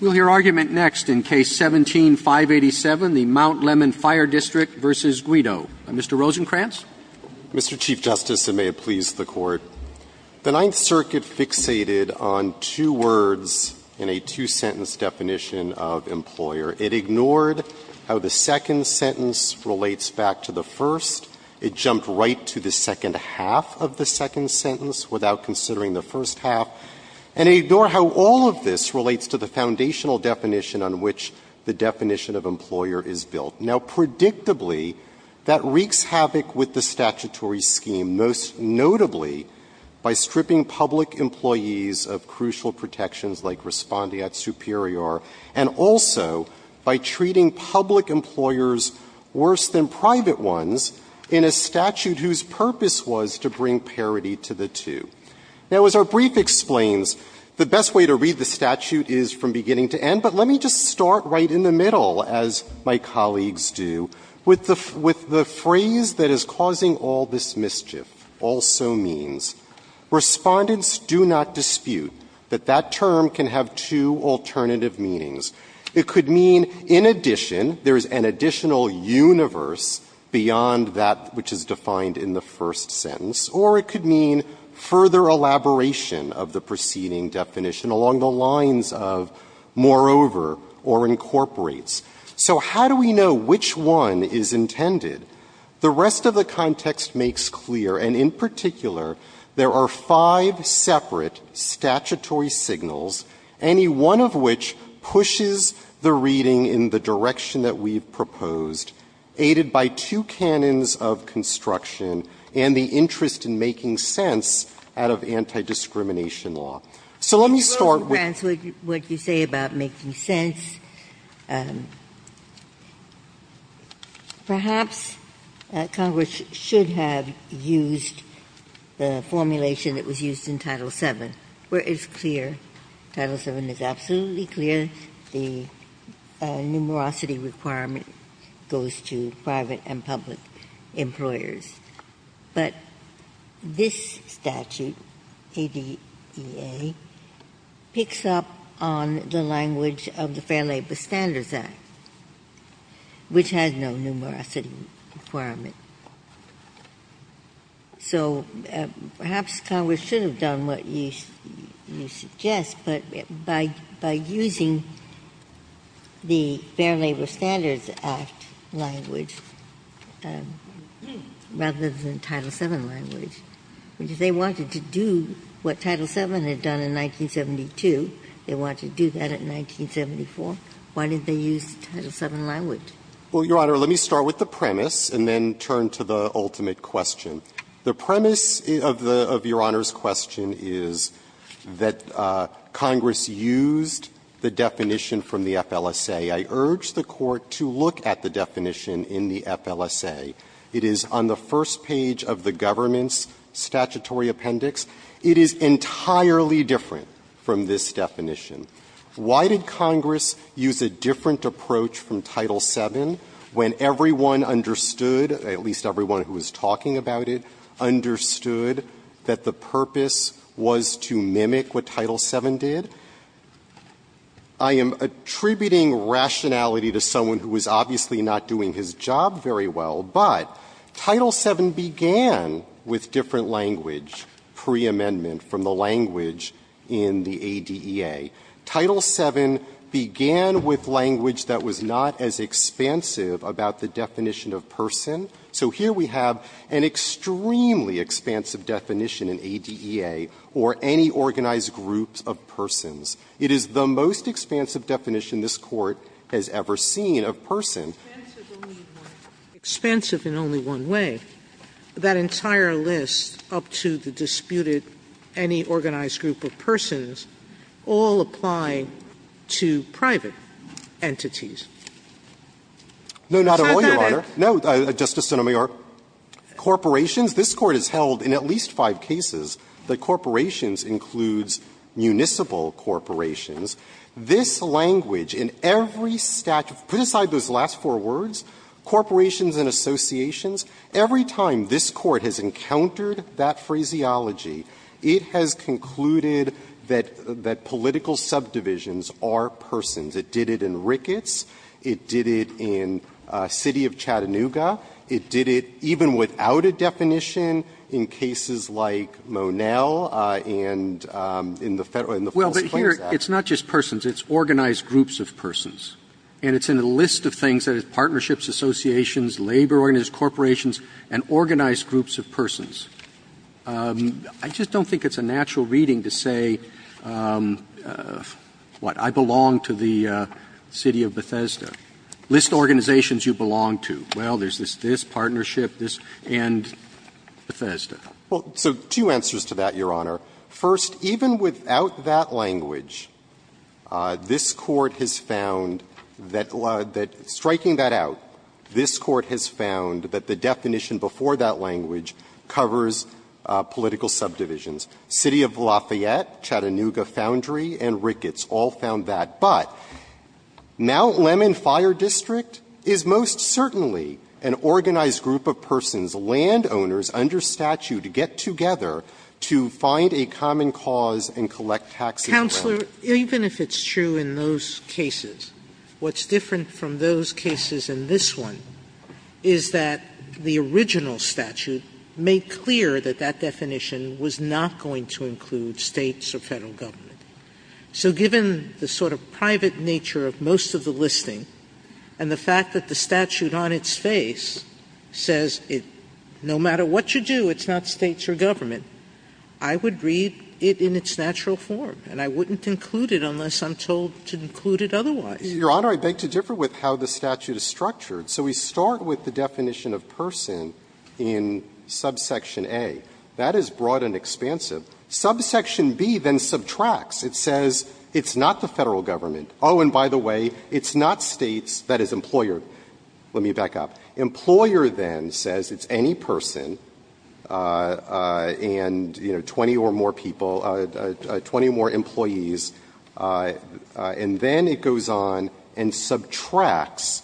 We'll hear argument next in Case 17-587, the Mount Lemmon Fire District v. Guido. Mr. Rosenkranz. Mr. Chief Justice, and may it please the Court, the Ninth Circuit fixated on two words in a two-sentence definition of employer. It ignored how the second sentence relates back to the first. It jumped right to the second half of the second sentence without considering the first half, and it ignored how all of this relates to the foundational definition on which the definition of employer is built. Now, predictably, that wreaks havoc with the statutory scheme, most notably by stripping public employees of crucial protections like respondeat superior, and also by treating public employers worse than private ones in a statute whose purpose was to bring parity to the two. Now, as our brief explains, the best way to read the statute is from beginning to end, but let me just start right in the middle, as my colleagues do, with the phrase that is causing all this mischief, also means Respondents do not dispute that that term can have two alternative meanings. It could mean, in addition, there is an additional universe beyond that which is defined in the first sentence, or it could mean further elaboration of the preceding definition along the lines of moreover or incorporates. So how do we know which one is intended? The rest of the context makes clear, and in particular, there are five separate statutory signals, any one of which pushes the reading in the direction that we've and the interest in making sense out of anti-discrimination law. So let me start with the first one. Ginsburg-Ganz, what you say about making sense, perhaps Congress should have used the formulation that was used in Title VII, where it's clear, Title VII is absolutely clear, the numerosity requirement goes to private and public employers. But this statute, ADEA, picks up on the language of the Fair Labor Standards Act, which has no numerosity requirement. So perhaps Congress should have done what you suggest, but by using the Fair Labor Standards Act language rather than Title VII language. If they wanted to do what Title VII had done in 1972, they wanted to do that in 1974, why didn't they use Title VII language? Rosenkranz. Well, Your Honor, let me start with the premise and then turn to the ultimate question. The premise of the Your Honor's question is that Congress used the definition from the FLSA. I urge the Court to look at the definition in the FLSA. It is on the first page of the government's statutory appendix. It is entirely different from this definition. Why did Congress use a different approach from Title VII when everyone understood at least everyone who was talking about it understood that the purpose was to mimic what Title VII did? I am attributing rationality to someone who was obviously not doing his job very well, but Title VII began with different language preamendment from the language in the ADEA. Title VII began with language that was not as expansive about the definition of person. So here we have an extremely expansive definition in ADEA or any organized group of persons. It is the most expansive definition this Court has ever seen of person. Sotomayor Expansive in only one way. That entire list up to the disputed any organized group of persons all apply to private entities. Rosenkranz No, not at all, Your Honor. Sotomayor No, Justice Sotomayor. Corporations, this Court has held in at least five cases that corporations includes municipal corporations. This language in every statute, put aside those last four words, corporations and associations, every time this Court has encountered that phraseology, it has concluded that political subdivisions are persons. It did it in Ricketts. It did it in the city of Chattanooga. It did it even without a definition in cases like Monell and in the Federal and the False Claims Act. Roberts Well, but here, it's not just persons, it's organized groups of persons. And it's in a list of things, that is, partnerships, associations, labor organizations, corporations, and organized groups of persons. I just don't think it's a natural reading to say, what, I belong to the city of Bethesda. List organizations you belong to. Well, there's this partnership, this, and Bethesda. Rosenkranz Well, so two answers to that, Your Honor. First, even without that language, this Court has found that striking that out, this Court has found that the definition before that language covers political subdivisions. City of Lafayette, Chattanooga Foundry, and Ricketts all found that. But Mount Lemmon Fire District is most certainly an organized group of persons, landowners under statute, to get together to find a common cause and collect taxes around it. Sotomayor Counselor, even if it's true in those cases, what's different from those cases and this one is that the original statute made clear that that definition was not going to include States or Federal government. So given the sort of private nature of most of the listing and the fact that the statute on its face says it, no matter what you do, it's not States or government, I would read it in its natural form, and I wouldn't include it unless I'm told to include it otherwise. Rosenkranz Your Honor, I beg to differ with how the statute is structured. So we start with the definition of person in subsection A. That is broad and expansive. Subsection B then subtracts. It says it's not the Federal government. Oh, and by the way, it's not States, that is employer. Let me back up. Employer then says it's any person and, you know, 20 or more people, 20 or more employees. And then it goes on and subtracts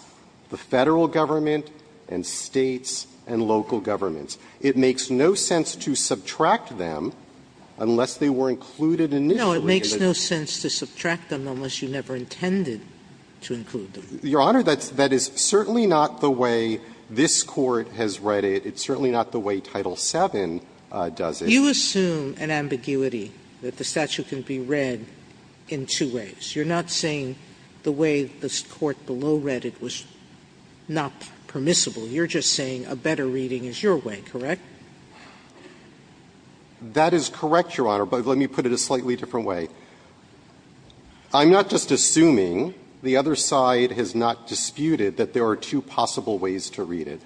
the Federal government and States and local governments. It makes no sense to subtract them unless they were included initially. Sotomayor No, it makes no sense to subtract them unless you never intended to include them. Rosenkranz Your Honor, that is certainly not the way this Court has read it. It's certainly not the way Title VII does it. Sotomayor You assume an ambiguity that the statute can be read in two ways. You're not saying the way the Court below read it was not permissible. You're just saying a better reading is your way, correct? Rosenkranz That is correct, Your Honor, but let me put it a slightly different way. I'm not just assuming. The other side has not disputed that there are two possible ways to read it.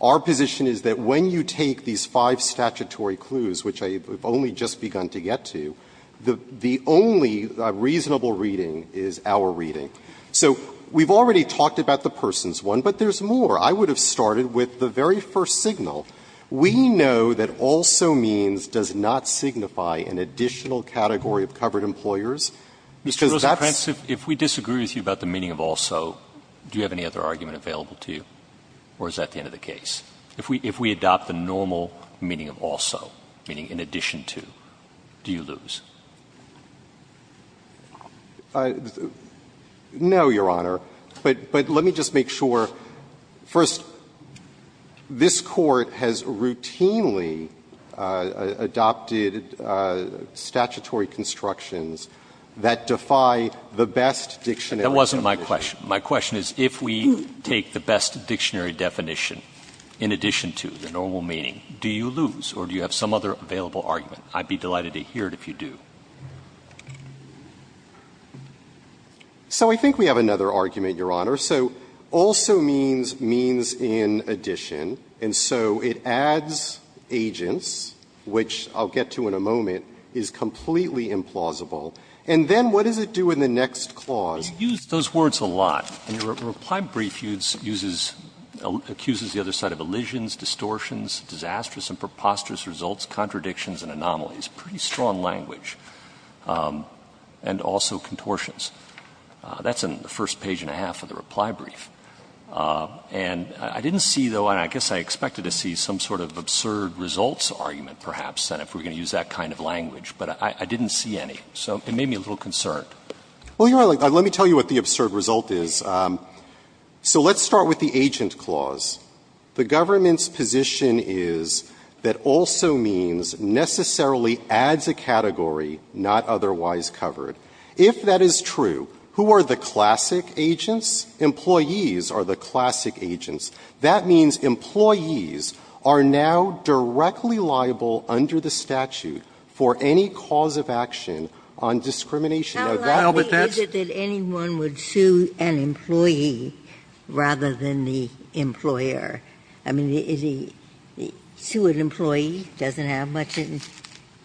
Our position is that when you take these five statutory clues, which I have only just begun to get to, the only reasonable reading is our reading. So we've already talked about the person's one, but there's more. I would have started with the very first signal. We know that also means does not signify an additional category of covered employers. Because that's Roberts If we disagree with you about the meaning of also, do you have any other argument available to you, or is that the end of the case? If we adopt the normal meaning of also, meaning in addition to, do you lose? Rosenkranz No, Your Honor. But let me just make sure. First, this Court has routinely adopted statutory constructions that defy the best dictionary definition. Roberts That wasn't my question. My question is if we take the best dictionary definition in addition to the normal meaning, do you lose, or do you have some other available argument? I'd be delighted to hear it if you do. Rosenkranz So I think we have another argument, Your Honor. So also means means in addition, and so it adds agents, which I'll get to in a moment, is completely implausible. And then what does it do in the next clause? Roberts You use those words a lot. And your reply brief uses the other side of allusions, distortions, disastrous and preposterous results, contradictions and anomalies, pretty strong language, and also contortions. That's in the first page and a half of the reply brief. And I didn't see, though, and I guess I expected to see some sort of absurd results argument, perhaps, that if we're going to use that kind of language, but I didn't So it made me a little concerned. Rosenkranz Well, Your Honor, let me tell you what the absurd result is. So let's start with the agent clause. The government's position is that also means necessarily adds a category not otherwise covered. If that is true, who are the classic agents? Employees are the classic agents. That means employees are now directly liable under the statute for any cause of action on discrimination. Now, that's Ginsburg So is it that anyone would sue an employee rather than the employer? I mean, sue an employee, doesn't have much in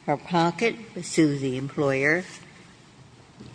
her pocket, sue the employer.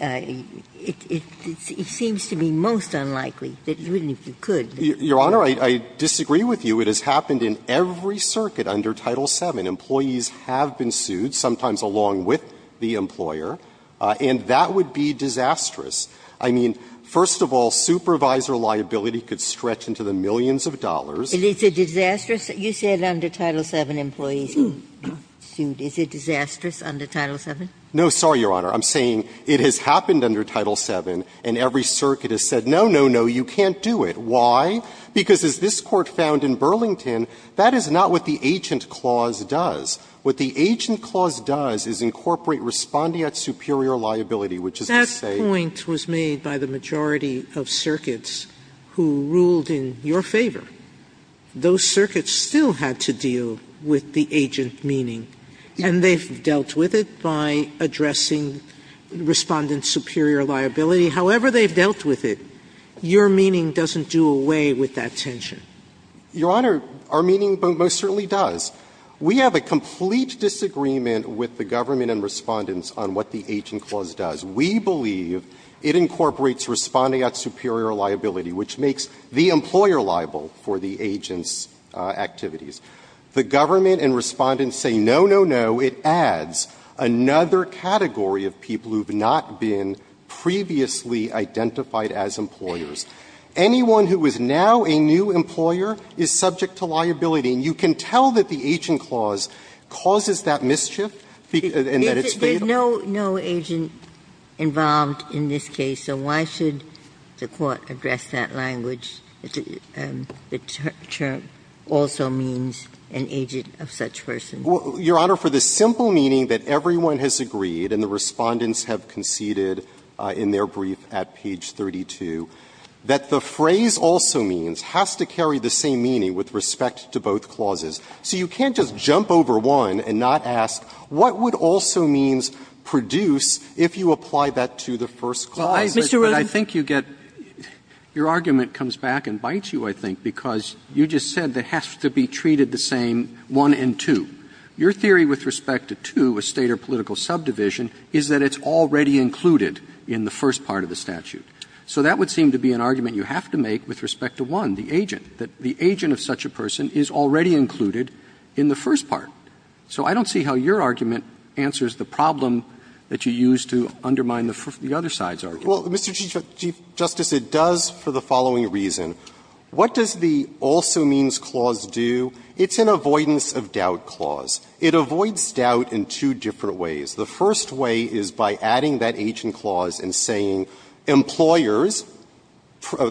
It seems to me most unlikely that you would, if you could. Rosenkranz Your Honor, I disagree with you. It has happened in every circuit under Title VII. Employees have been sued, sometimes along with the employer, and that would be disastrous I mean, first of all, supervisor liability could stretch into the millions of dollars. Ginsburg It is a disastrous? You said under Title VII, employees are being sued. Is it disastrous under Title VII? Rosenkranz No, sorry, Your Honor. I'm saying it has happened under Title VII, and every circuit has said, no, no, no, you can't do it. Why? Because as this Court found in Burlington, that is not what the agent clause does. What the agent clause does is incorporate respondeat superior liability, which is to say Sotomayor My point was made by the majority of circuits who ruled in your favor. Those circuits still had to deal with the agent meaning, and they've dealt with it by addressing respondeat superior liability. However they've dealt with it, your meaning doesn't do away with that tension. Rosenkranz Your Honor, our meaning most certainly does. We have a complete disagreement with the government and respondents on what the agent clause does. We believe it incorporates respondeat superior liability, which makes the employer liable for the agent's activities. The government and respondents say, no, no, no, it adds another category of people who have not been previously identified as employers. Anyone who is now a new employer is subject to liability, and you can tell that there is no agent involved in this case, so why should the Court address that language that the term also means an agent of such person? Rosenkranz Well, Your Honor, for the simple meaning that everyone has agreed, and the respondeats have conceded in their brief at page 32, that the phrase also means has to carry the same meaning with respect to both clauses. So you can't just jump over one and not ask, what would also means produce if you apply that to the first clause? Mr. Rosenkranz I think you get – your argument comes back and bites you, I think, because you just said they have to be treated the same, one and two. Your theory with respect to two, a State or political subdivision, is that it's already included in the first part of the statute. So that would seem to be an argument you have to make with respect to one, the agent, that the agent of such a person is already included in the first part. So I don't see how your argument answers the problem that you used to undermine the other side's argument. Breyer Well, Mr. Chief Justice, it does for the following reason. What does the also means clause do? It's an avoidance of doubt clause. It avoids doubt in two different ways. The first way is by adding that agent clause and saying employers,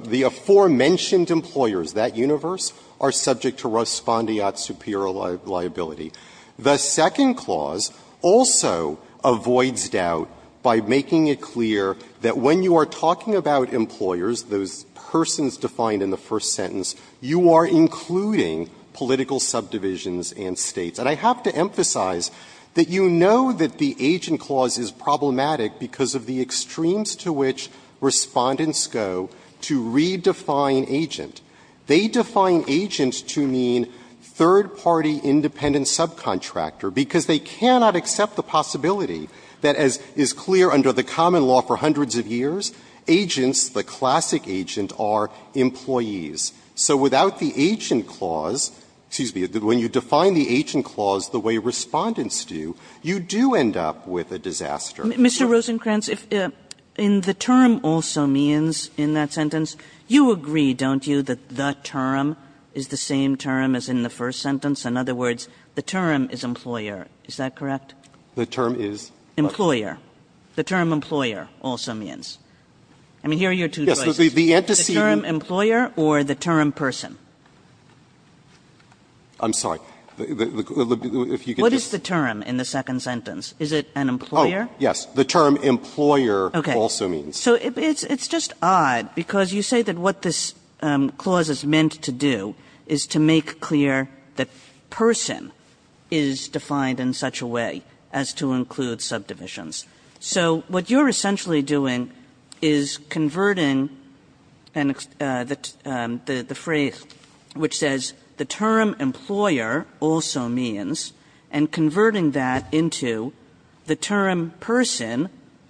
the aforementioned employers, that universe, are subject to respondeat superior liability. The second clause also avoids doubt by making it clear that when you are talking about employers, those persons defined in the first sentence, you are including political subdivisions and States. And I have to emphasize that you know that the agent clause is problematic because of the extremes to which Respondents go to redefine agent. They define agent to mean third-party independent subcontractor because they cannot accept the possibility that, as is clear under the common law for hundreds of years, agents, the classic agent, are employees. So without the agent clause, excuse me, when you define the agent clause the way Respondents do, you do end up with a disaster. Kagan. Kagan. Mr. Rosenkranz, in the term also means in that sentence, you agree, don't you, that the term is the same term as in the first sentence? In other words, the term is employer. Is that correct? Rosenkranz. The term is what? Kagan. Employer. The term employer also means. I mean, here are your two choices. Rosenkranz. The antecedent. Kagan. The term employer or the term person? Rosenkranz. I'm sorry. Kagan. What is the term in the second sentence? Is it an employer? Rosenkranz. Oh, yes. The term employer also means. Kagan. So it's just odd, because you say that what this clause is meant to do is to make clear that person is defined in such a way as to include subdivisions. So what you're essentially doing is converting the phrase which says the term employer also means and converting that into the term person,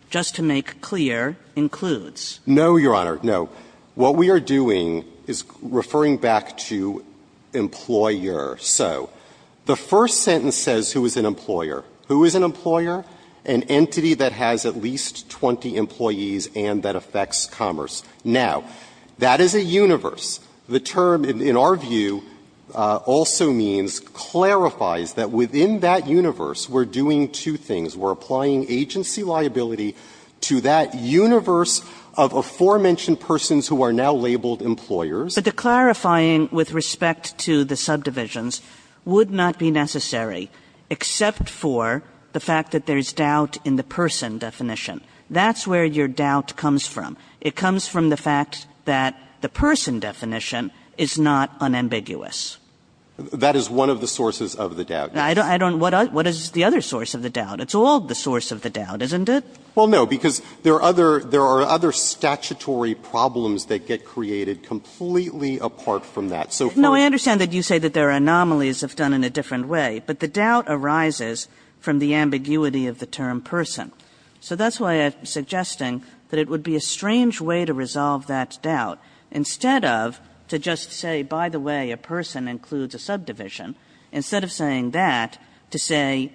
just to make clear, includes. Rosenkranz. No, Your Honor. No. What we are doing is referring back to employer. So the first sentence says who is an employer. Who is an employer? An entity that has at least 20 employees and that affects commerce. Now, that is a universe. The term, in our view, also means, clarifies that within that universe, we're doing two things. We're applying agency liability to that universe of aforementioned persons who are now labeled employers. Kagan. But the clarifying with respect to the subdivisions would not be necessary, except for the fact that there is doubt in the person definition. That's where your doubt comes from. It comes from the fact that the person definition is not unambiguous. That is one of the sources of the doubt. I don't know. What is the other source of the doubt? It's all the source of the doubt, isn't it? Well, no, because there are other statutory problems that get created completely apart from that. So first of all you say that there are anomalies if done in a different way, but the doubt arises from the ambiguity of the term person. So that's why I'm suggesting that it would be a strange way to resolve that doubt instead of to just say, by the way, a person includes a subdivision, instead of saying that, to say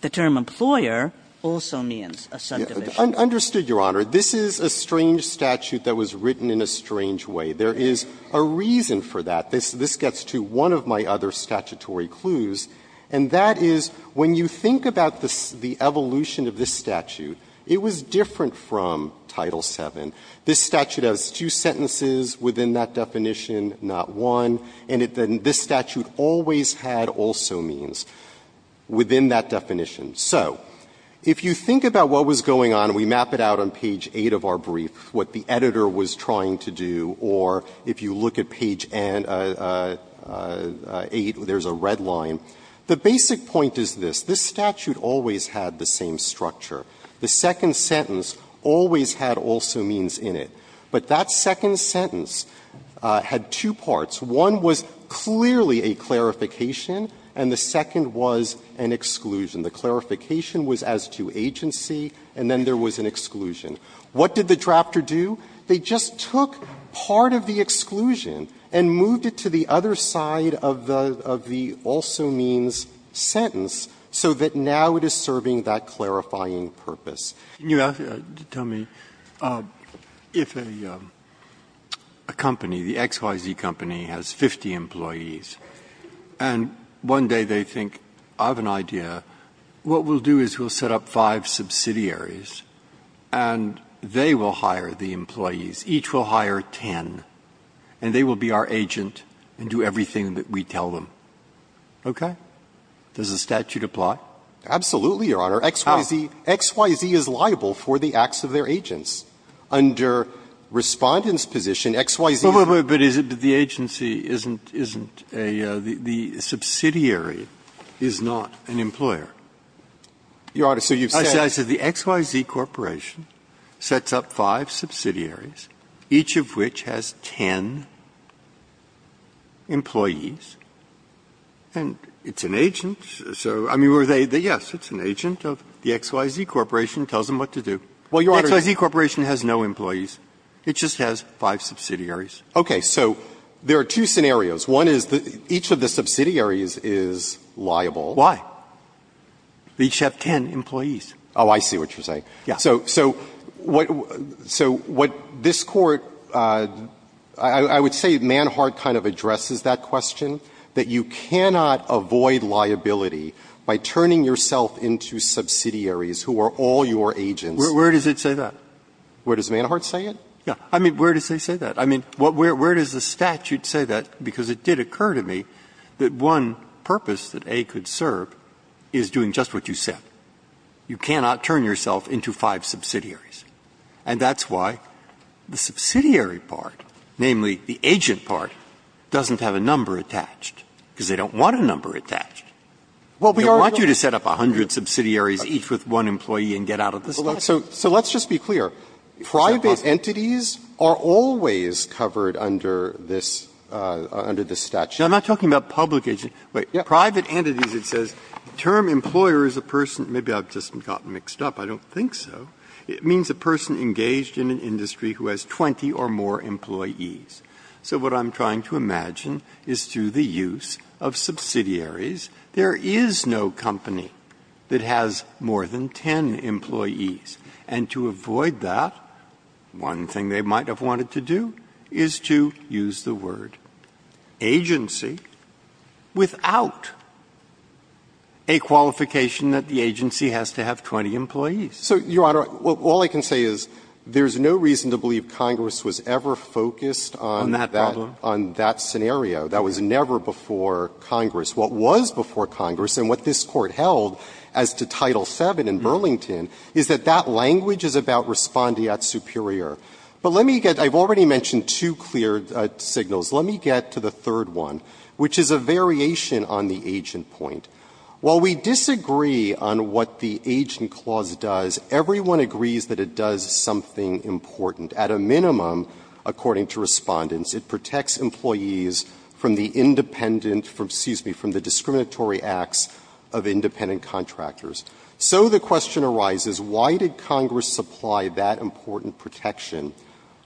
the term employer also means a subdivision. Understood, Your Honor, this is a strange statute that was written in a strange way. There is a reason for that. This gets to one of my other statutory clues, and that is when you think about the evolution of this statute, it was different from Title VII. This statute has two sentences within that definition, not one, and this statute always had also means within that definition. So if you think about what was going on, we map it out on page 8 of our brief, what the editor was trying to do, or if you look at page 8, there is a red line. The basic point is this. This statute always had the same structure. The second sentence always had also means in it. But that second sentence had two parts. One was clearly a clarification, and the second was an exclusion. The clarification was as to agency, and then there was an exclusion. What did the drafter do? They just took part of the exclusion and moved it to the other side of the also means sentence so that now it is serving that clarifying purpose. Breyer, tell me, if a company, the XYZ Company, has 50 employees, and one day they think, I have an idea, what we'll do is we'll set up five subsidiaries, and they will hire the employees, each will hire ten, and they will be our agent and do everything that we tell them, okay? Does the statute apply? Absolutely, Your Honor. XYZ is liable for the acts of their agents. Under Respondent's position, XYZ doesn't. But the agency isn't a — the subsidiary is not an employer. Your Honor, so you've said — I said the XYZ Corporation sets up five subsidiaries, each of which has ten employees, and it's an agent, so — I mean, were they — yes, it's an agent of the XYZ Corporation. It tells them what to do. Well, Your Honor — The XYZ Corporation has no employees. It just has five subsidiaries. Okay. So there are two scenarios. One is that each of the subsidiaries is liable. Why? They each have ten employees. Oh, I see what you're saying. Yeah. So — so what — so what this Court — I would say Manhart kind of addresses that question, that you cannot avoid liability by turning yourself into subsidiaries who are all your agents. Where does it say that? Where does Manhart say it? Yeah. I mean, where does he say that? I mean, where does the statute say that? Because it did occur to me that one purpose that A could serve is doing just what you said. You cannot turn yourself into five subsidiaries. And that's why the subsidiary part, namely the agent part, doesn't have a number attached, because they don't want a number attached. They want you to set up a hundred subsidiaries each with one employee and get out of the statute. So let's just be clear. Private entities are always covered under this — under this statute. I'm not talking about public agents. But private entities, it says, the term employer is a person — maybe I've just gotten mixed up. I don't think so. It means a person engaged in an industry who has 20 or more employees. So what I'm trying to imagine is through the use of subsidiaries, there is no company that has more than 10 employees. And to avoid that, one thing they might have wanted to do is to use the word agency without a qualification that the agency has to have 20 employees. So, Your Honor, all I can say is there's no reason to believe Congress was ever focused on that — On that problem. — on that scenario. That was never before Congress. What was before Congress and what this Court held as to Title VII in Burlington is that that language is about respondeat superior. But let me get — I've already mentioned two clear signals. Let me get to the third one. Which is a variation on the agent point. While we disagree on what the agent clause does, everyone agrees that it does something important. At a minimum, according to Respondents, it protects employees from the independent — excuse me, from the discriminatory acts of independent contractors. So the question arises, why did Congress supply that important protection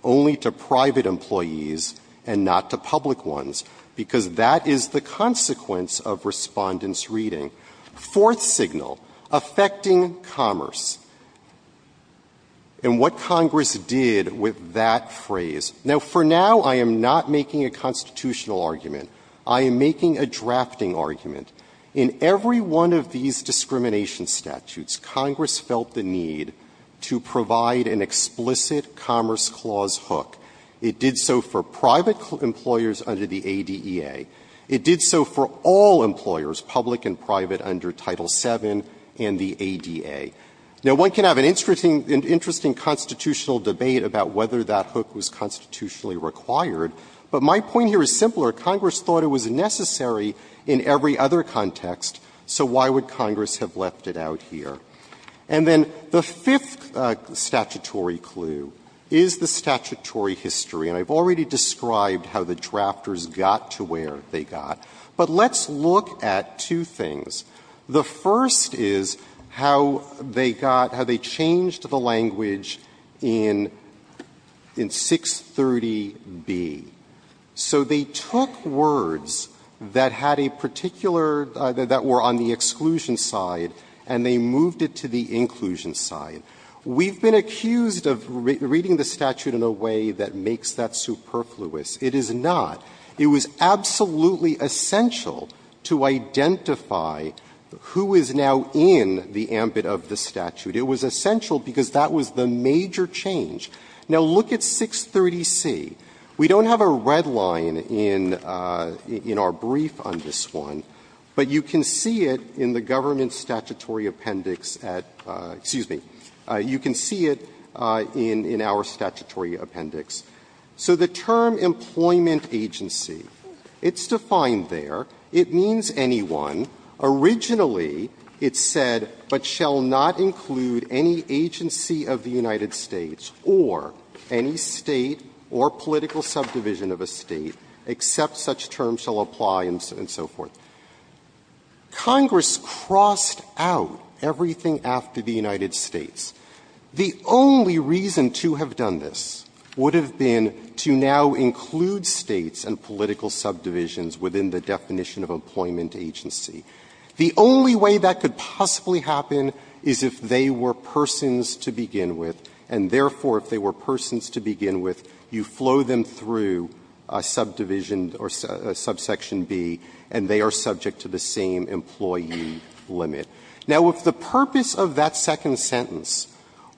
only to private employees and not to public ones? Because that is the consequence of Respondents' reading. Fourth signal, affecting commerce. And what Congress did with that phrase — now, for now, I am not making a constitutional argument. I am making a drafting argument. In every one of these discrimination statutes, Congress felt the need to provide an explicit commerce clause hook. It did so for private employers under the ADEA. It did so for all employers, public and private, under Title VII and the ADA. Now, one can have an interesting constitutional debate about whether that hook was constitutionally required, but my point here is simpler. Congress thought it was necessary in every other context, so why would Congress have left it out here? And then the fifth statutory clue is the statutory history. And I've already described how the drafters got to where they got. But let's look at two things. The first is how they got — how they changed the language in 630B. So they took words that had a particular — that were on the exclusion side, and they moved it to the inclusion side. We've been accused of reading the statute in a way that makes that superfluous. It is not. It was absolutely essential to identify who is now in the ambit of the statute. It was essential because that was the major change. Now, look at 630C. We don't have a red line in our brief on this one, but you can see it in the government's statutory appendix at — excuse me, you can see it in our statutory appendix. So the term employment agency, it's defined there. It means anyone. Originally, it said, but shall not include any agency of the United States or any State or political subdivision of a State, except such terms shall apply, and so forth. Congress crossed out everything after the United States. The only reason to have done this would have been to now include States and political subdivisions within the definition of employment agency. The only way that could possibly happen is if they were persons to begin with, and therefore, if they were persons to begin with, you flow them through a subdivision or subsection B, and they are subject to the same employee limit. Now, if the purpose of that second sentence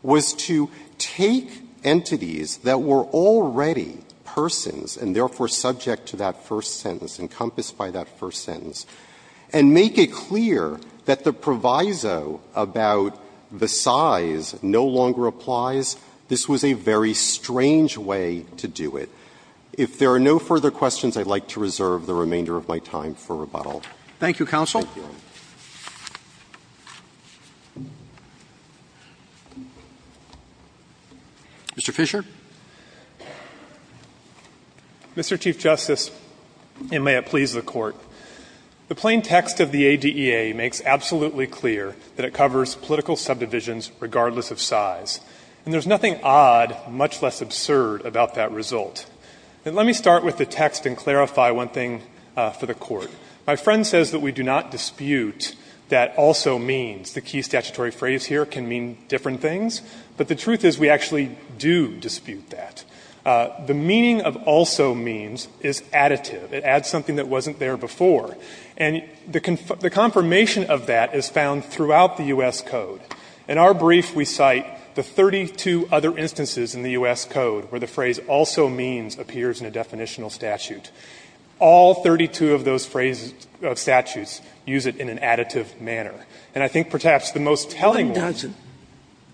was to take entities that were already persons, and therefore, subject to that first sentence, encompassed by that first sentence, and make it clear that the proviso about the size no longer applies, this was a very strange way to do it. If there are no further questions, I'd like to reserve the remainder of my time for rebuttal. Thank you, counsel. Thank you. Mr. Fischer. Mr. Chief Justice, and may it please the Court, the plain text of the ADEA makes absolutely clear that it covers political subdivisions regardless of size, and there's nothing odd, much less absurd, about that result. Let me start with the text and clarify one thing for the Court. My friend says that we do not dispute that also means. The key statutory phrase here can mean different things, but the truth is we actually do dispute that. The meaning of also means is additive. It adds something that wasn't there before. And the confirmation of that is found throughout the U.S. Code. In our brief, we cite the 32 other instances in the U.S. Code where the phrase also means appears in a definitional statute. All 32 of those phrases of statutes use it in an additive manner. And I think perhaps the most telling one is the one that's not there.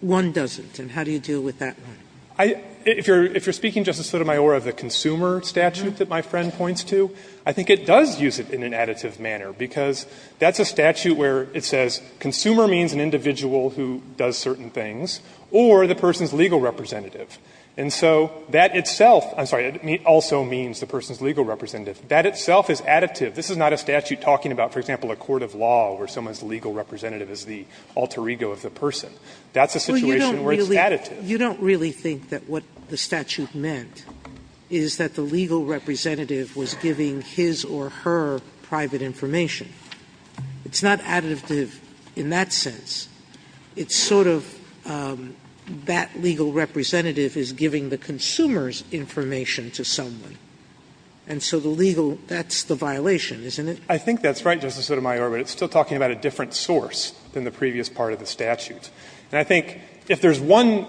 One doesn't. And how do you deal with that one? If you're speaking, Justice Sotomayor, of the consumer statute that my friend points to, I think it does use it in an additive manner, because that's a statute where it says consumer means an individual who does certain things, or the person's legal representative. And so that itself also means the person's legal representative. That itself is additive. This is not a statute talking about, for example, a court of law where someone's legal representative is the alter ego of the person. That's a situation where it's additive. Sotomayor, you don't really think that what the statute meant is that the legal representative was giving his or her private information. It's not additive in that sense. It's sort of that legal representative is giving the consumer's information to someone. And so the legal that's the violation, isn't it? Fisherman, I think that's right, Justice Sotomayor, but it's still talking about a different source than the previous part of the statute. And I think if there's one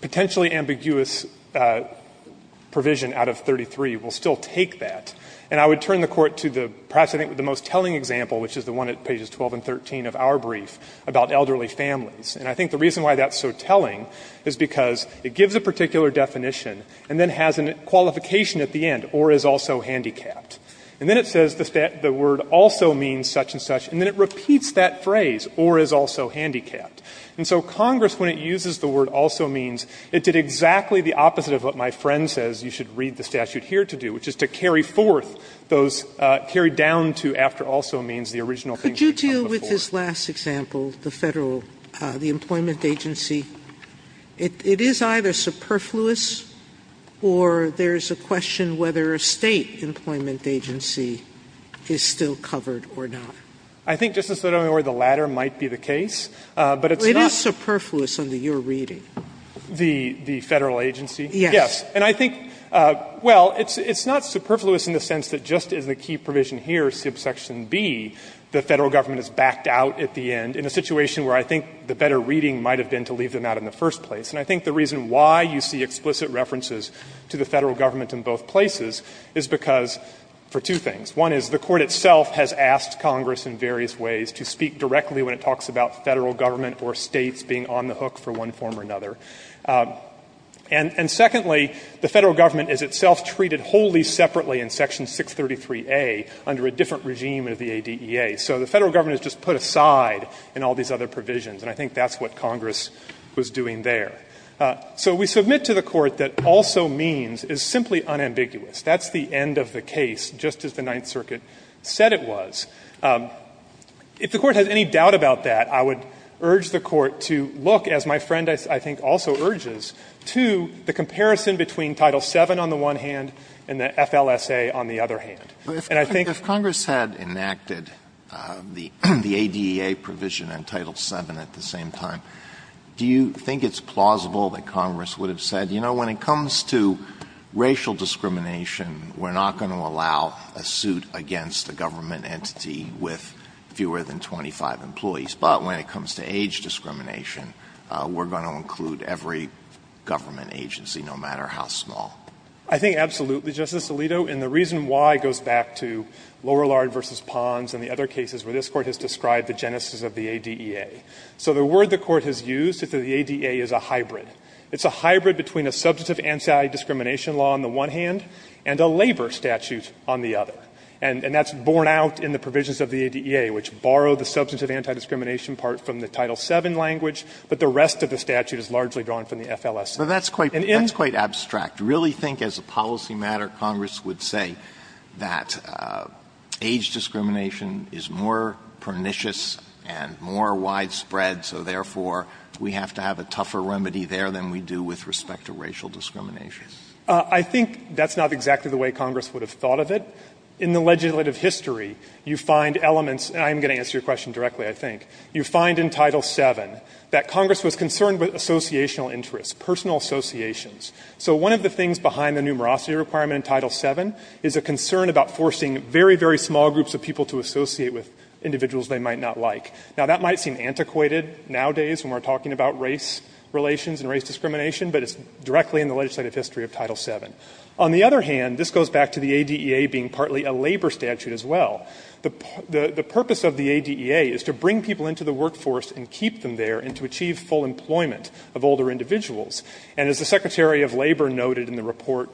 potentially ambiguous provision out of 33, we'll still take that. And I would turn the Court to the perhaps I think the most telling example, which is the one at pages 12 and 13 of our brief about elderly families. And I think the reason why that's so telling is because it gives a particular definition and then has a qualification at the end, or is also handicapped. And then it says the word also means such and such, and then it repeats that phrase, or is also handicapped. And so Congress, when it uses the word also means, it did exactly the opposite of what my friend says you should read the statute here to do, which is to carry forth those carry down to after also means the original thing should come before. Sotomayor, it is either superfluous or there's a question whether a State employment agency is still covered or not. Fisherman, I think, Justice Sotomayor, the latter might be the case, but it's not Sotomayor, it is superfluous under your reading. Fisherman, the Federal agency? Yes. And I think, well, it's not superfluous in the sense that just as the key provision here, subsection B, the Federal government is backed out at the end in a situation where I think the better reading might have been to leave them out in the first place. And I think the reason why you see explicit references to the Federal government in both places is because for two things. One is the Court itself has asked Congress in various ways to speak directly when it talks about Federal government or States being on the hook for one form or another. And secondly, the Federal government is itself treated wholly separately in section 633a under a different regime of the ADEA. So the Federal government is just put aside in all these other provisions, and I think that's what Congress was doing there. So we submit to the Court that also means is simply unambiguous. That's the end of the case, just as the Ninth Circuit said it was. If the Court has any doubt about that, I would urge the Court to look, as my friend I think also urges, to the comparison between Title VII on the one hand and the FLSA on the other hand. And I think the other hand is that the Federal government is not going to be able to do that. Alitos, do you think it's plausible that Congress would have said, you know, when it comes to racial discrimination, we're not going to allow a suit against a government entity with fewer than 25 employees, but when it comes to age discrimination, we're going to include every government agency, no matter how small? I think absolutely, Justice Alito, and the reason why goes back to Lorillard v. Pons and the other cases where this Court has described the genesis of the ADEA. So the word the Court has used is that the ADEA is a hybrid. It's a hybrid between a substantive anti-discrimination law on the one hand and a labor statute on the other. And that's borne out in the provisions of the ADEA, which borrow the substantive anti-discrimination part from the Title VII language, but the rest of the statute is largely drawn from the FLSA. And in the case of the ADEA, it's a hybrid. Alitos, do you think it's plausible that Congress would have said, you know, when it comes to racial discrimination, we're not going to allow a suit against a government entity with fewer than 25 employees, no matter how small? I think absolutely, Justice Alitos, and the reason why goes back to Lorillard In the legislative history, you find elements, and I'm going to answer your question directly, I think, you find in Title VII that Congress was concerned with associational interests, personal associations. So one of the things behind the numerosity requirement in Title VII is a concern about forcing very, very small groups of people to associate with individuals they might not like. Now that might seem antiquated nowadays when we're talking about race relations and race discrimination, but it's directly in the legislative history of Title VII. On the other hand, this goes back to the ADEA being partly a labor statute as well. The purpose of the ADEA is to bring people into the workforce and keep them there and to achieve full employment of older individuals. And as the Secretary of Labor noted in the report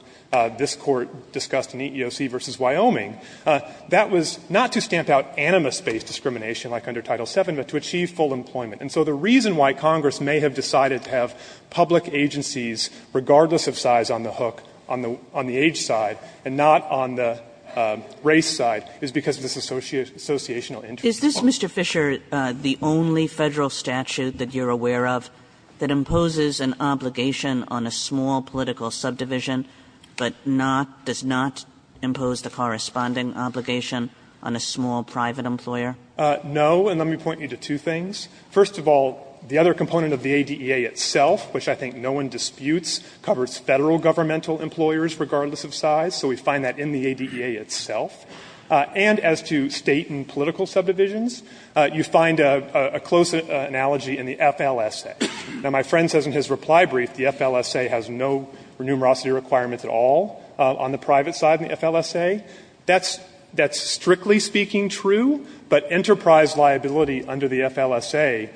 this Court discussed in EEOC versus Wyoming, that was not to stamp out animus-based discrimination like under Title VII, but to achieve full employment. And so the reason why Congress may have decided to have public agencies, regardless of size, on the hook, on the age side, and not on the race side, is because of this associational interest requirement. Kagan, Is this, Mr. Fisher, the only Federal statute that you're aware of that imposes an obligation on a small political subdivision, but not, does not impose the corresponding obligation on a small private employer? Fisher, No, and let me point you to two things. First of all, the other component of the ADEA itself, which I think no one disputes, covers Federal governmental employers, regardless of size. So we find that in the ADEA itself. And as to State and political subdivisions, you find a close analogy in the FLSA. Now, my friend says in his reply brief the FLSA has no numerosity requirements at all on the private side of the FLSA. That's strictly speaking true, but enterprise liability under the FLSA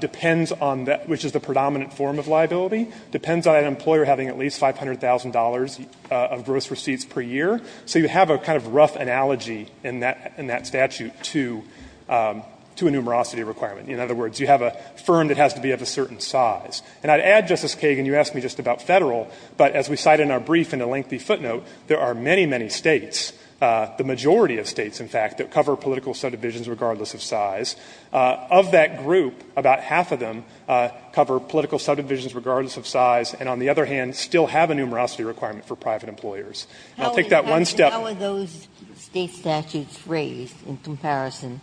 depends on that, which is the predominant form of liability, depends on an employer having at least $500,000 of gross receipts per year. So you have a kind of rough analogy in that statute to a numerosity requirement. In other words, you have a firm that has to be of a certain size. And I'd add, Justice Kagan, you asked me just about Federal, but as we cite in our brief in the lengthy footnote, there are many, many States, the majority of States, in fact, that cover political subdivisions, regardless of size. Of that group, about half of them cover political subdivisions regardless of size and, on the other hand, still have a numerosity requirement for private employers. And I'll take that one step aside. Ginsburg-How are those State statutes raised in comparison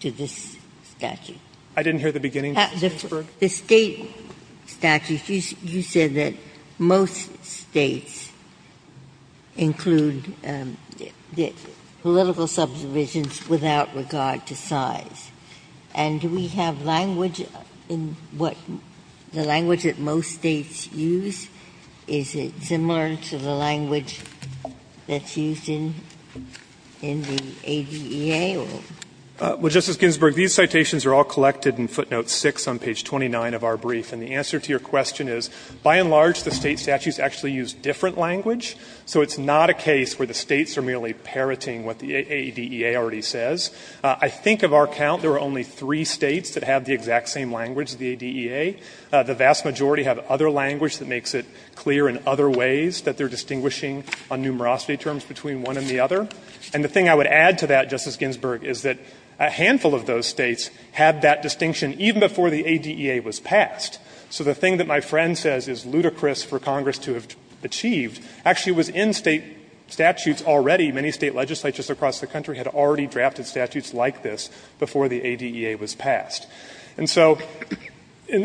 to this statute? Fisher-I didn't hear the beginning, Justice Ginsburg. Ginsburg-The State statutes, you said that most States include political subdivisions without regard to size. And do we have language in what the language that most States use? Is it similar to the language that's used in the AEDEA or? Fisher-Well, Justice Ginsburg, these citations are all collected in footnote 6 on page 29 of our brief. And the answer to your question is, by and large, the State statutes actually use different language. So it's not a case where the States are merely parroting what the AEDEA already says. I think of our count, there are only three States that have the exact same language of the AEDEA. The vast majority have other language that makes it clear in other ways that they are distinguishing on numerosity terms between one and the other. And the thing I would add to that, Justice Ginsburg, is that a handful of those States had that distinction even before the AEDEA was passed. So the thing that my friend says is ludicrous for Congress to have achieved actually was in State statutes already. Many State legislatures across the country had already drafted statutes like this before the AEDEA was passed. And so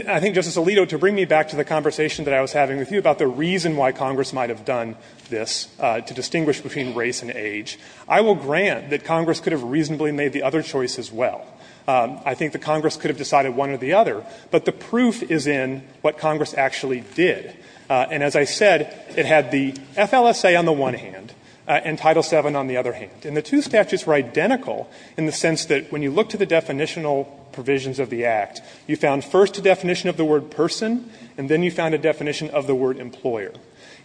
I think, Justice Alito, to bring me back to the conversation that I was having with you about the reason why Congress might have done this to distinguish between race and age, I will grant that Congress could have reasonably made the other choice as well. I think that Congress could have decided one or the other, but the proof is in what Congress actually did. And as I said, it had the FLSA on the one hand and Title VII on the other hand. And the two statutes were identical in the sense that when you look to the definitional provisions of the Act, you found first a definition of the word person, and then you found a definition of the word employer.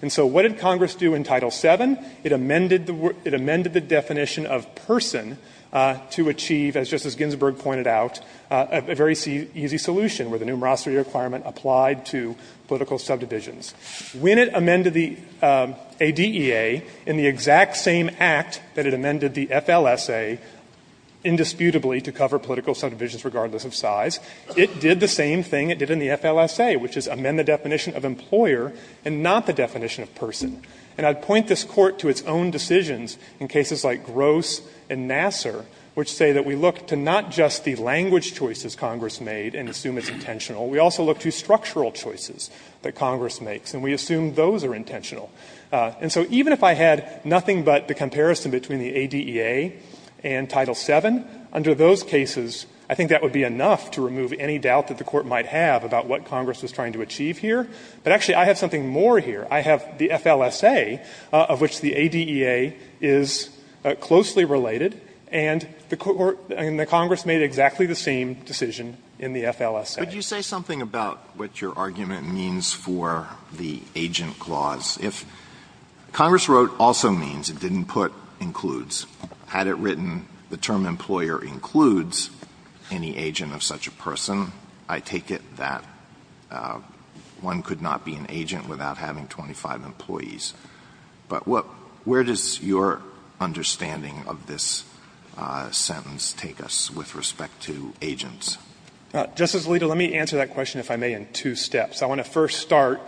And so what did Congress do in Title VII? It amended the definition of person to achieve, as Justice Ginsburg pointed out, a very easy solution where the numerosity requirement applied to political subdivision When it amended the ADEA in the exact same Act that it amended the FLSA indisputably to cover political subdivisions regardless of size, it did the same thing it did in the FLSA, which is amend the definition of employer and not the definition of person. And I would point this Court to its own decisions in cases like Gross and Nassar, which say that we look to not just the language choices Congress made and assume it's intentional, we also look to structural choices that Congress makes, and we assume those are intentional. And so even if I had nothing but the comparison between the ADEA and Title VII, under those cases, I think that would be enough to remove any doubt that the Court might have about what Congress was trying to achieve here. But actually, I have something more here. I have the FLSA, of which the ADEA is closely related, and the Congress made exactly the same decision in the FLSA. Alito, would you say something about what your argument means for the agent clause? If Congress wrote also means, it didn't put includes, had it written the term employer includes any agent of such a person, I take it that one could not be an agent without having 25 employees. But what — where does your understanding of this sentence take us with respect to agents? Justice Alito, let me answer that question, if I may, in two steps. I want to first start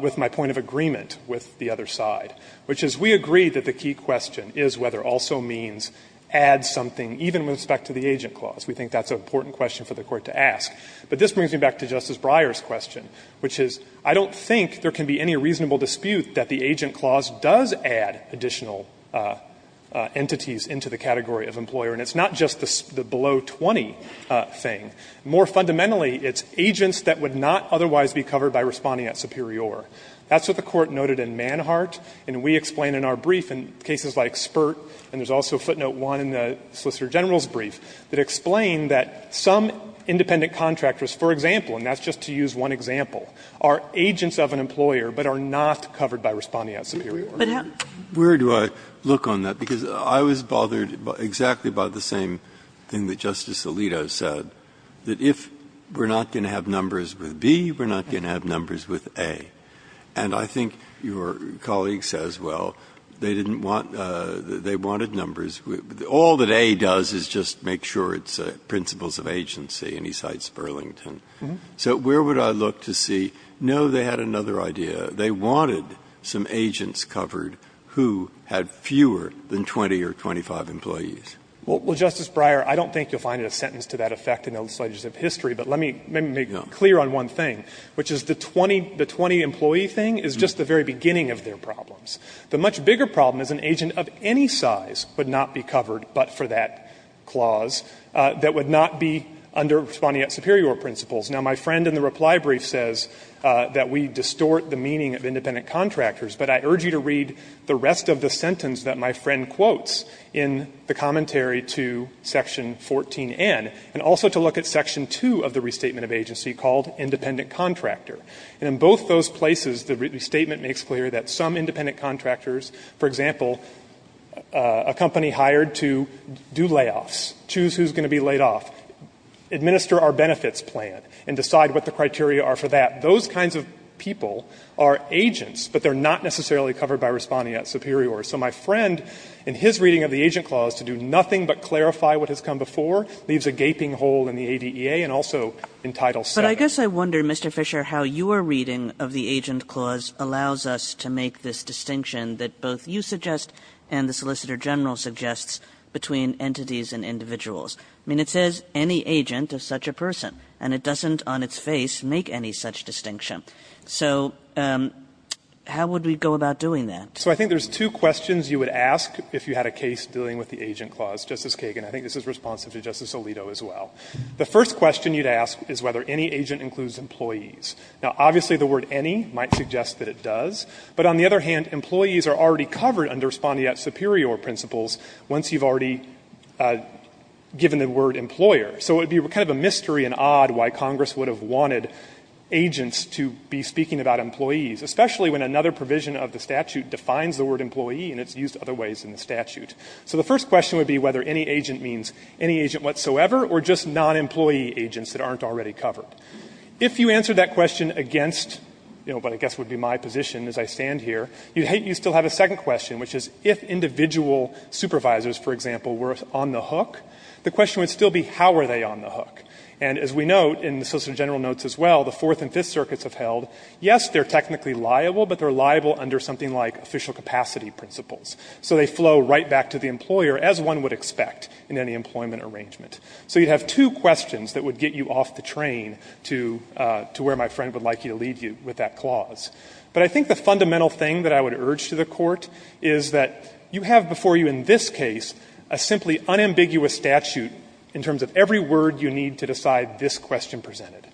with my point of agreement with the other side, which is we agree that the key question is whether also means adds something, even with respect to the agent clause. We think that's an important question for the Court to ask. But this brings me back to Justice Breyer's question, which is I don't think there can be any reasonable dispute that the agent clause does add additional entities into the category of employer, and it's not just the below-20 thing. More fundamentally, it's agents that would not otherwise be covered by responding at superior. That's what the Court noted in Manhart, and we explain in our brief in cases like Spurt, and there's also footnote 1 in the Solicitor General's brief, that explain that some independent contractors, for example, and that's just to use one example, are agents of an employer but are not covered by responding at superior. Breyer, where do I look on that? Because I was bothered exactly by the same thing that Justice Alito said, that if we're not going to have numbers with B, we're not going to have numbers with A. And I think your colleague says, well, they didn't want to – they wanted numbers – all that A does is just make sure it's principles of agency, and he cites Burlington. So where would I look to see, no, they had another idea. They wanted some agents covered who had fewer than 20 or 25 employees. Fisherman, Well, Justice Breyer, I don't think you'll find a sentence to that effect in those slides of history, but let me make clear on one thing, which is the 20-employee thing is just the very beginning of their problems. The much bigger problem is an agent of any size would not be covered but for that clause, that would not be under responding at superior principles. Now, my friend in the reply brief says that we distort the meaning of independent contractors, but I urge you to read the rest of the sentence that my friend quotes in the commentary to Section 14N, and also to look at Section 2 of the Restatement of Agency called independent contractor. And in both those places, the restatement makes clear that some independent layoffs, choose who's going to be laid off, administer our benefits plan, and decide what the criteria are for that. Those kinds of people are agents, but they're not necessarily covered by responding at superior. So my friend, in his reading of the Agent Clause, to do nothing but clarify what has come before, leaves a gaping hole in the ADEA and also in Title VII. Kagan, But I guess I wonder, Mr. Fisher, how your reading of the Agent Clause allows us to make this distinction that both you suggest and the Solicitor General suggests between entities and individuals. I mean, it says, any agent of such a person, and it doesn't on its face make any such distinction. So how would we go about doing that? Fisher, So I think there's two questions you would ask if you had a case dealing with the Agent Clause, Justice Kagan. I think this is responsive to Justice Alito as well. The first question you'd ask is whether any agent includes employees. Now, obviously, the word any might suggest that it does, but on the other hand, employees are already covered under respondeat superior principles once you've already given the word employer. So it would be kind of a mystery and odd why Congress would have wanted agents to be speaking about employees, especially when another provision of the statute defines the word employee, and it's used other ways in the statute. So the first question would be whether any agent means any agent whatsoever or just non-employee agents that aren't already covered. If you answer that question against, you know, but I guess would be my position as I stand here, you'd still have a second question, which is if individual supervisors, for example, were on the hook, the question would still be how are they on the hook? And as we note in the Solicitor General notes as well, the Fourth and Fifth Circuits have held, yes, they're technically liable, but they're liable under something like official capacity principles. So they flow right back to the employer as one would expect in any employment arrangement. So you'd have two questions that would get you off the train to where my friend would like you to leave you with that clause. But I think the fundamental thing that I would urge to the Court is that you have before you in this case a simply unambiguous statute in terms of every word you need to decide this question presented.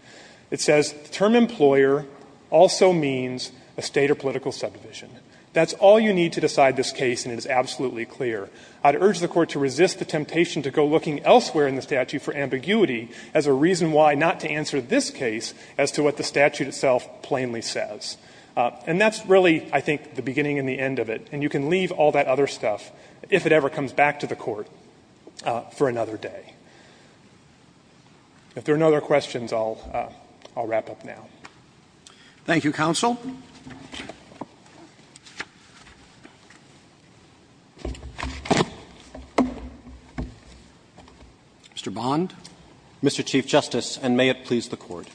It says the term employer also means a state or political subdivision. That's all you need to decide this case, and it is absolutely clear. I'd urge the Court to resist the temptation to go looking elsewhere in the statute for ambiguity as a reason why not to answer this case as to what the statute itself plainly says. And that's really, I think, the beginning and the end of it. And you can leave all that other stuff, if it ever comes back to the Court, for another day. If there are no other questions, I'll wrap up now. Roberts. Thank you, counsel. Mr. Bond. Mr. Chief Justice, and may it please the Court.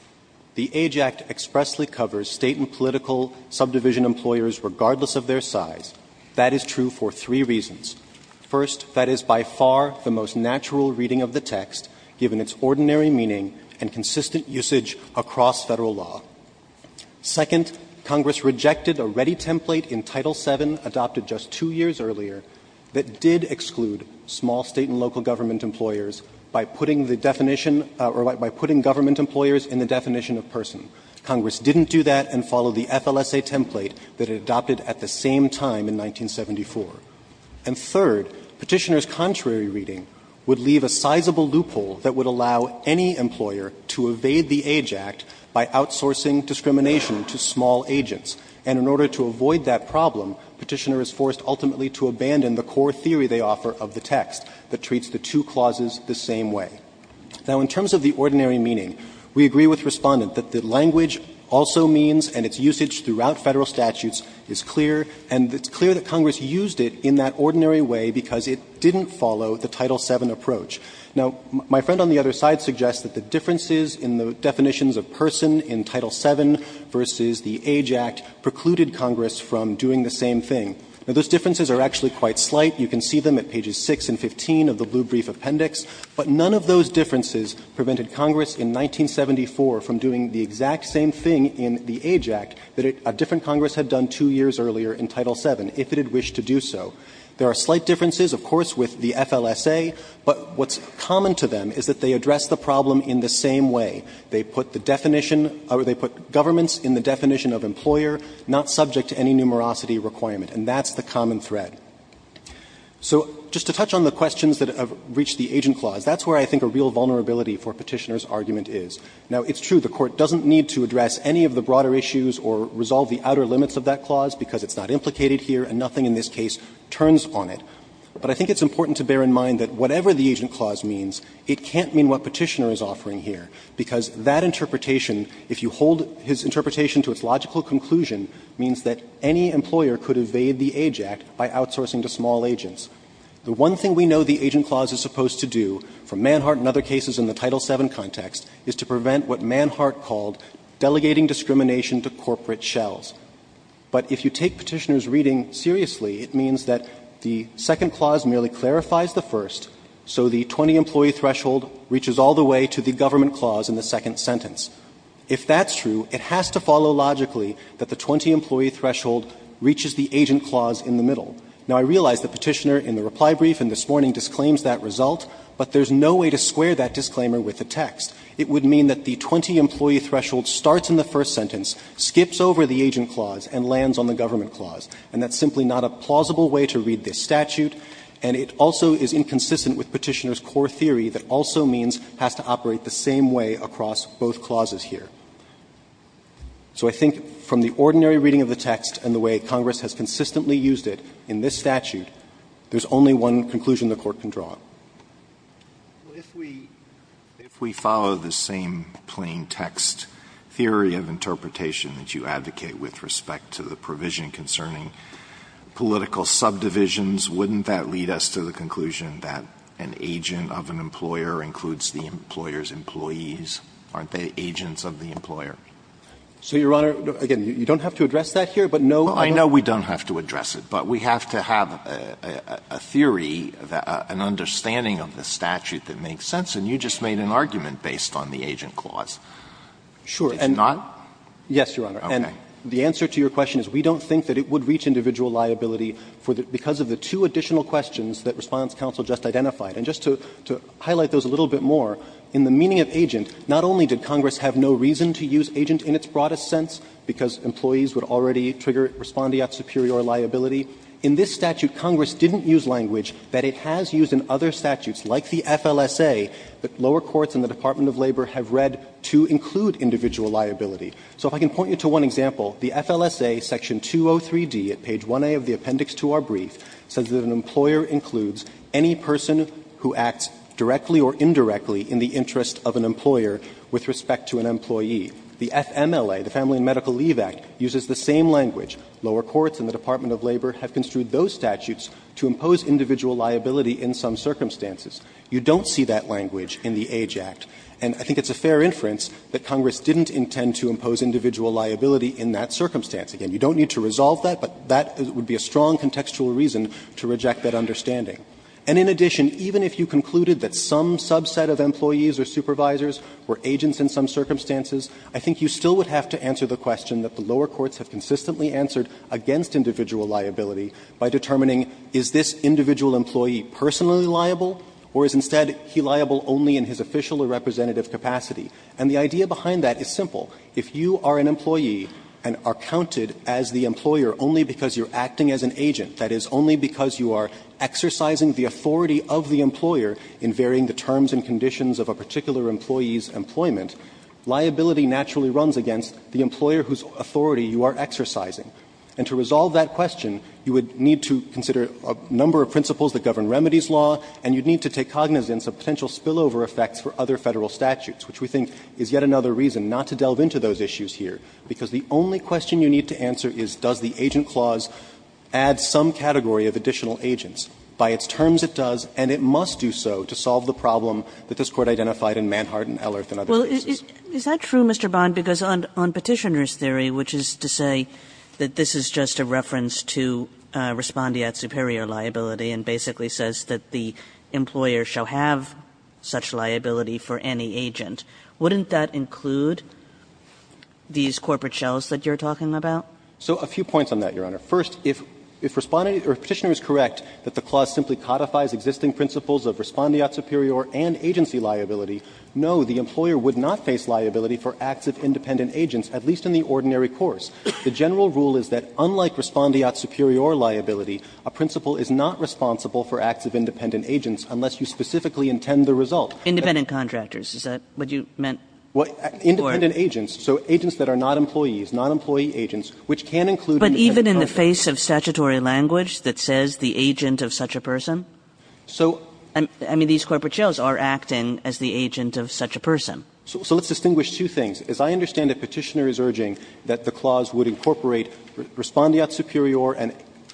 The AGE Act expressly covers state and political subdivision employers regardless of their size. That is true for three reasons. First, that is by far the most natural reading of the text, given its ordinary meaning and consistent usage across Federal law. Second, Congress rejected a ready template in Title VII adopted just two years earlier that did exclude small state and local government employers by putting the definition or by putting government employers in the definition of person. Congress didn't do that and followed the FLSA template that it adopted at the same time in 1974. And third, Petitioner's contrary reading would leave a sizable loophole that would allow any employer to evade the AGE Act by outsourcing discrimination to small agents. And in order to avoid that problem, Petitioner is forced ultimately to abandon the core theory they offer of the text that treats the two clauses the same way. Now, in terms of the ordinary meaning, we agree with Respondent that the language also means and its usage throughout Federal statutes is clear, and it's clear that Congress used it in that ordinary way because it didn't follow the Title VII approach. Now, my friend on the other side suggests that the differences in the definitions of person in Title VII versus the AGE Act precluded Congress from doing the same thing. Now, those differences are actually quite slight. You can see them at pages 6 and 15 of the Blue Brief Appendix. But none of those differences prevented Congress in 1974 from doing the exact same thing in the AGE Act that a different Congress had done two years earlier in Title VII, if it had wished to do so. There are slight differences, of course, with the FLSA, but what's common to them is that they address the problem in the same way. They put the definition or they put governments in the definition of employer, not subject to any numerosity requirement. And that's the common thread. So just to touch on the questions that have reached the Agent Clause, that's where I think a real vulnerability for Petitioner's argument is. Now, it's true the Court doesn't need to address any of the broader issues or resolve the outer limits of that clause because it's not implicated here and nothing in this case turns on it. But I think it's important to bear in mind that whatever the Agent Clause means, it can't mean what Petitioner is offering here, because that interpretation, if you hold his interpretation to its logical conclusion, means that any employer could evade the AGE Act by outsourcing to small agents. The one thing we know the Agent Clause is supposed to do, for Manhart and other cases in the Title VII context, is to prevent what Manhart called delegating discrimination to corporate shells. But if you take Petitioner's reading seriously, it means that the second clause merely clarifies the first, so the 20-employee threshold reaches all the way to the government clause in the second sentence. If that's true, it has to follow logically that the 20-employee threshold reaches the Agent Clause in the middle. Now, I realize that Petitioner in the reply brief and this morning disclaims that result, but there's no way to square that disclaimer with the text. It would mean that the 20-employee threshold starts in the first sentence, skips over the Agent Clause, and lands on the government clause. And that's simply not a plausible way to read this statute, and it also is inconsistent with Petitioner's core theory that also means it has to operate the same way across both clauses here. So I think from the ordinary reading of the text and the way Congress has consistently used it in this statute, there's only one conclusion the Court can draw. Alito, if we follow the same plain text theory of interpretation that you advocate with respect to the provision concerning political subdivisions, wouldn't that lead us to the conclusion that an agent of an employer includes the employer's employees? Aren't they agents of the employer? So, Your Honor, again, you don't have to address that here, but no other? Well, I know we don't have to address it, but we have to have a theory, an understanding of the statute that makes sense, and you just made an argument based on the Agent Clause. Sure, and the answer to your question is we don't think that it would reach individual liability because of the two additional questions that Response Counsel just identified. And just to highlight those a little bit more, in the meaning of agent, not only did Congress have no reason to use agent in its broadest sense because employees would already trigger respondeat superior liability, in this statute Congress didn't use language that it has used in other statutes like the FLSA that lower courts and the Department of Labor have read to include individual liability. So if I can point you to one example, the FLSA section 203d at page 1a of the appendix to our brief says that an employer includes any person who acts directly or indirectly in the interest of an employer with respect to an employee. The FMLA, the Family and Medical Leave Act, uses the same language. Lower courts and the Department of Labor have construed those statutes to impose individual liability in some circumstances. You don't see that language in the Age Act, and I think it's a fair inference that Congress didn't intend to impose individual liability in that circumstance. Again, you don't need to resolve that, but that would be a strong contextual reason to reject that understanding. And in addition, even if you concluded that some subset of employees or supervisors were agents in some circumstances, I think you still would have to answer the question that the lower courts have consistently answered against individual liability by determining is this individual employee personally liable or is instead he liable only in his official or representative capacity. And the idea behind that is simple. If you are an employee and are counted as the employer only because you're acting as an agent, that is, only because you are exercising the authority of the employer in varying the terms and conditions of a particular employee's employment, liability naturally runs against the employer whose authority you are exercising. And to resolve that question, you would need to consider a number of principles that govern remedies law, and you'd need to take cognizance of potential spillover effects for other Federal statutes, which we think is yet another reason not to delve into those issues here, because the only question you need to answer is does the agent clause add some category of additional agents. By its terms, it does, and it must do so to solve the problem that this Court identified in Manhart and Ellerth and other cases. Kagan is that true, Mr. Bond, because on Petitioner's theory, which is to say that this is just a reference to respondeat superior liability and basically says that the employer shall have such liability for any agent, wouldn't that include these corporate shells that you're talking about? So a few points on that, Your Honor. First, if Respondeat or Petitioner is correct that the clause simply codifies existing principles of respondeat superior and agency liability, no, the employer would not face liability for acts of independent agents, at least in the ordinary course. The general rule is that unlike respondeat superior liability, a principle is not responsible for acts of independent agents unless you specifically intend the result. Independent contractors, is that what you meant? Independent agents, so agents that are not employees, non-employee agents, which can include independent contractors. But even in the face of statutory language that says the agent of such a person? So, I mean, these corporate shells are acting as the agent of such a person. So let's distinguish two things. As I understand it, Petitioner is urging that the clause would incorporate Respondeat superior and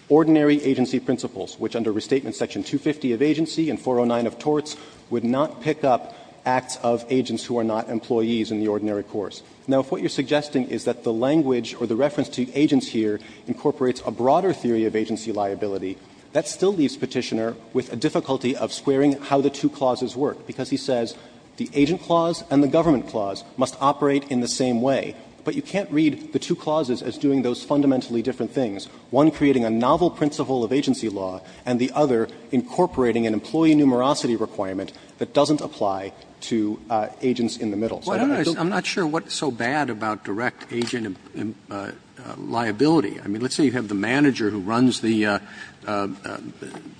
ordinary agency principles, which under Restatement Section 250 of Agency and 409 of Torts would not pick up acts of agents who are not employees in the ordinary course. Now, if what you're suggesting is that the language or the reference to agents here incorporates a broader theory of agency liability, that still leaves Petitioner with a difficulty of squaring how the two clauses work, because he says the agent clause and the government clause must operate in the same way. But you can't read the two clauses as doing those fundamentally different things, one creating a novel principle of agency law and the other incorporating an employee numerosity requirement that doesn't apply to agents in the middle. So that's a little bit of a dilemma. Roberts. I'm not sure what's so bad about direct agent liability. I mean, let's say you have the manager who runs the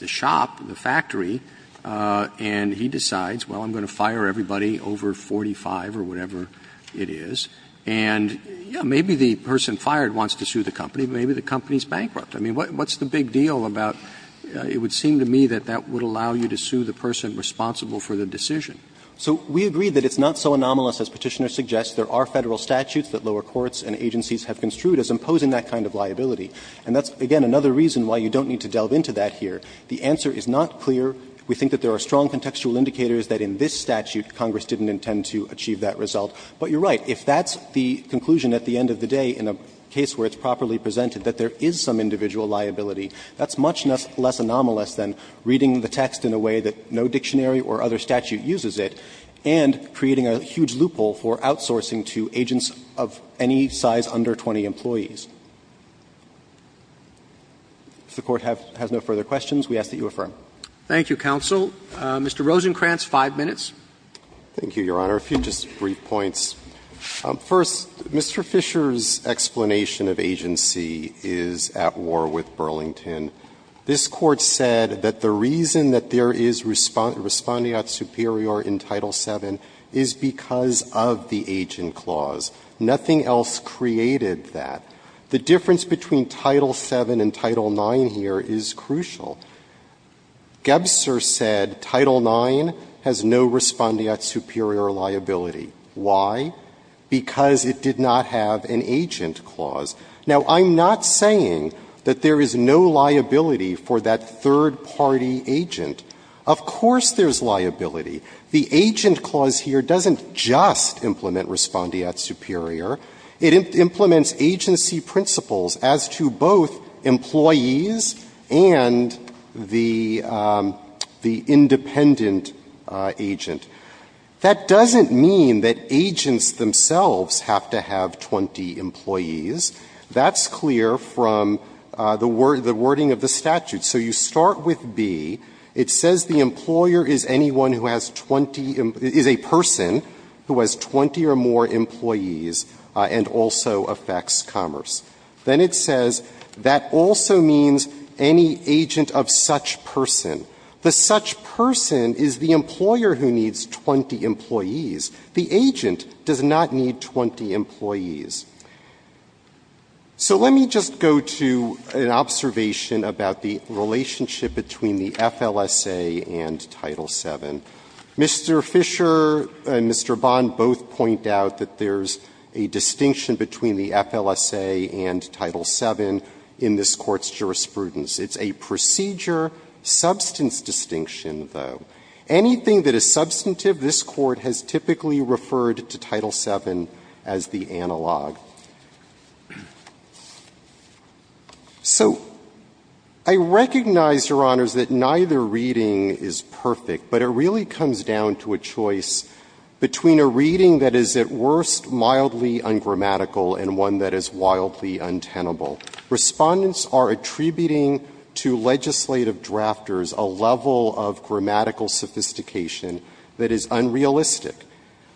shop, the factory, and he decides, well, I'm going to fire everybody over 45 or whatever it is, and, yes, maybe the person fired wants to sue the company, but maybe the company is bankrupt. I mean, what's the big deal about it would seem to me that that would allow you to sue the person responsible for the decision? So we agree that it's not so anomalous as Petitioner suggests. There are Federal statutes that lower courts and agencies have construed as imposing that kind of liability. And that's, again, another reason why you don't need to delve into that here. The answer is not clear. We think that there are strong contextual indicators that in this statute Congress didn't intend to achieve that result. But you're right. If that's the conclusion at the end of the day in a case where it's properly presented that there is some individual liability, that's much less anomalous than reading the text in a way that no dictionary or other statute uses it and creating a huge loophole for outsourcing to agents of any size under 20 employees. If the Court has no further questions, we ask that you affirm. Roberts. Thank you, counsel. Mr. Rosenkranz, 5 minutes. Rosenkranz, thank you, Your Honor. A few just brief points. First, Mr. Fisher's explanation of agency is at war with Burlington. This Court said that the reason that there is respondeat superior in Title VII is because of the agent clause. Nothing else created that. The difference between Title VII and Title IX here is crucial. Gebser said Title IX has no respondeat superior liability. Why? Because it did not have an agent clause. Now, I'm not saying that there is no liability for that third-party agent. Of course there's liability. The agent clause here doesn't just implement respondeat superior. It implements agency principles as to both employees and the independent agent. That doesn't mean that agents themselves have to have 20 employees. That's clear from the wording of the statute. So you start with B. It says the employer is anyone who has 20 employees, is a person who has 20 or more employees, and also affects commerce. Then it says that also means any agent of such person. The such person is the employer who needs 20 employees. The agent does not need 20 employees. So let me just go to an observation about the relationship between the FLSA and Title VII. Mr. Fischer and Mr. Bond both point out that there's a distinction between the FLSA and Title VII in this Court's jurisprudence. It's a procedure substance distinction, though. Anything that is substantive, this Court has typically referred to Title VII as the analog. So I recognize, Your Honors, that neither reading is perfect, but it really is a matter of choice. It really comes down to a choice between a reading that is at worst mildly ungrammatical and one that is wildly untenable. Respondents are attributing to legislative drafters a level of grammatical sophistication that is unrealistic.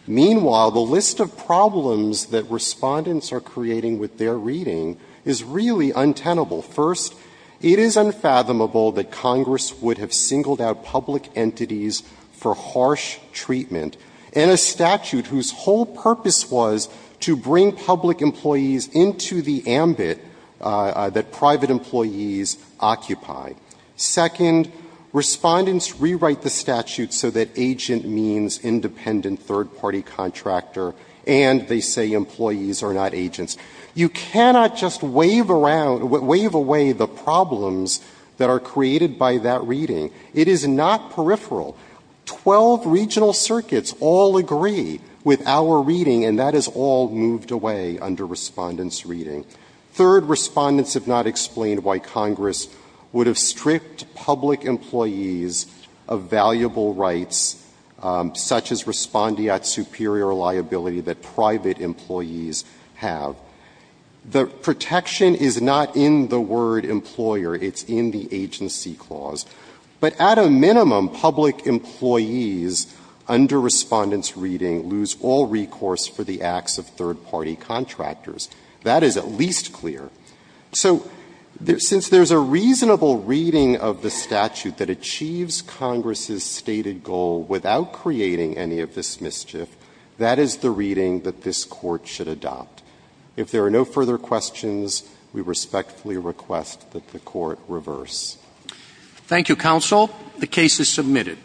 Meanwhile, the list of problems that Respondents are creating with their reading is really untenable. First, it is unfathomable that Congress would have singled out public entities for harsh treatment in a statute whose whole purpose was to bring public employees into the ambit that private employees occupy. Second, Respondents rewrite the statute so that agent means independent third-party contractor, and they say employees are not agents. You cannot just wave around or wave away the problems that are created by that reading. It is not peripheral. Twelve regional circuits all agree with our reading, and that is all moved away under Respondents' reading. Third, Respondents have not explained why Congress would have stripped public employees of valuable rights such as respondeat superior liability that private employees have. The protection is not in the word employer. It's in the agency clause. But at a minimum, public employees under Respondents' reading lose all recourse for the acts of third-party contractors. That is at least clear. So since there's a reasonable reading of the statute that achieves Congress's stated goal without creating any of this mischief, that is the reading that this Court should adopt. If there are no further questions, we respectfully request that the Court reverse. Roberts. Thank you, counsel. The case is submitted.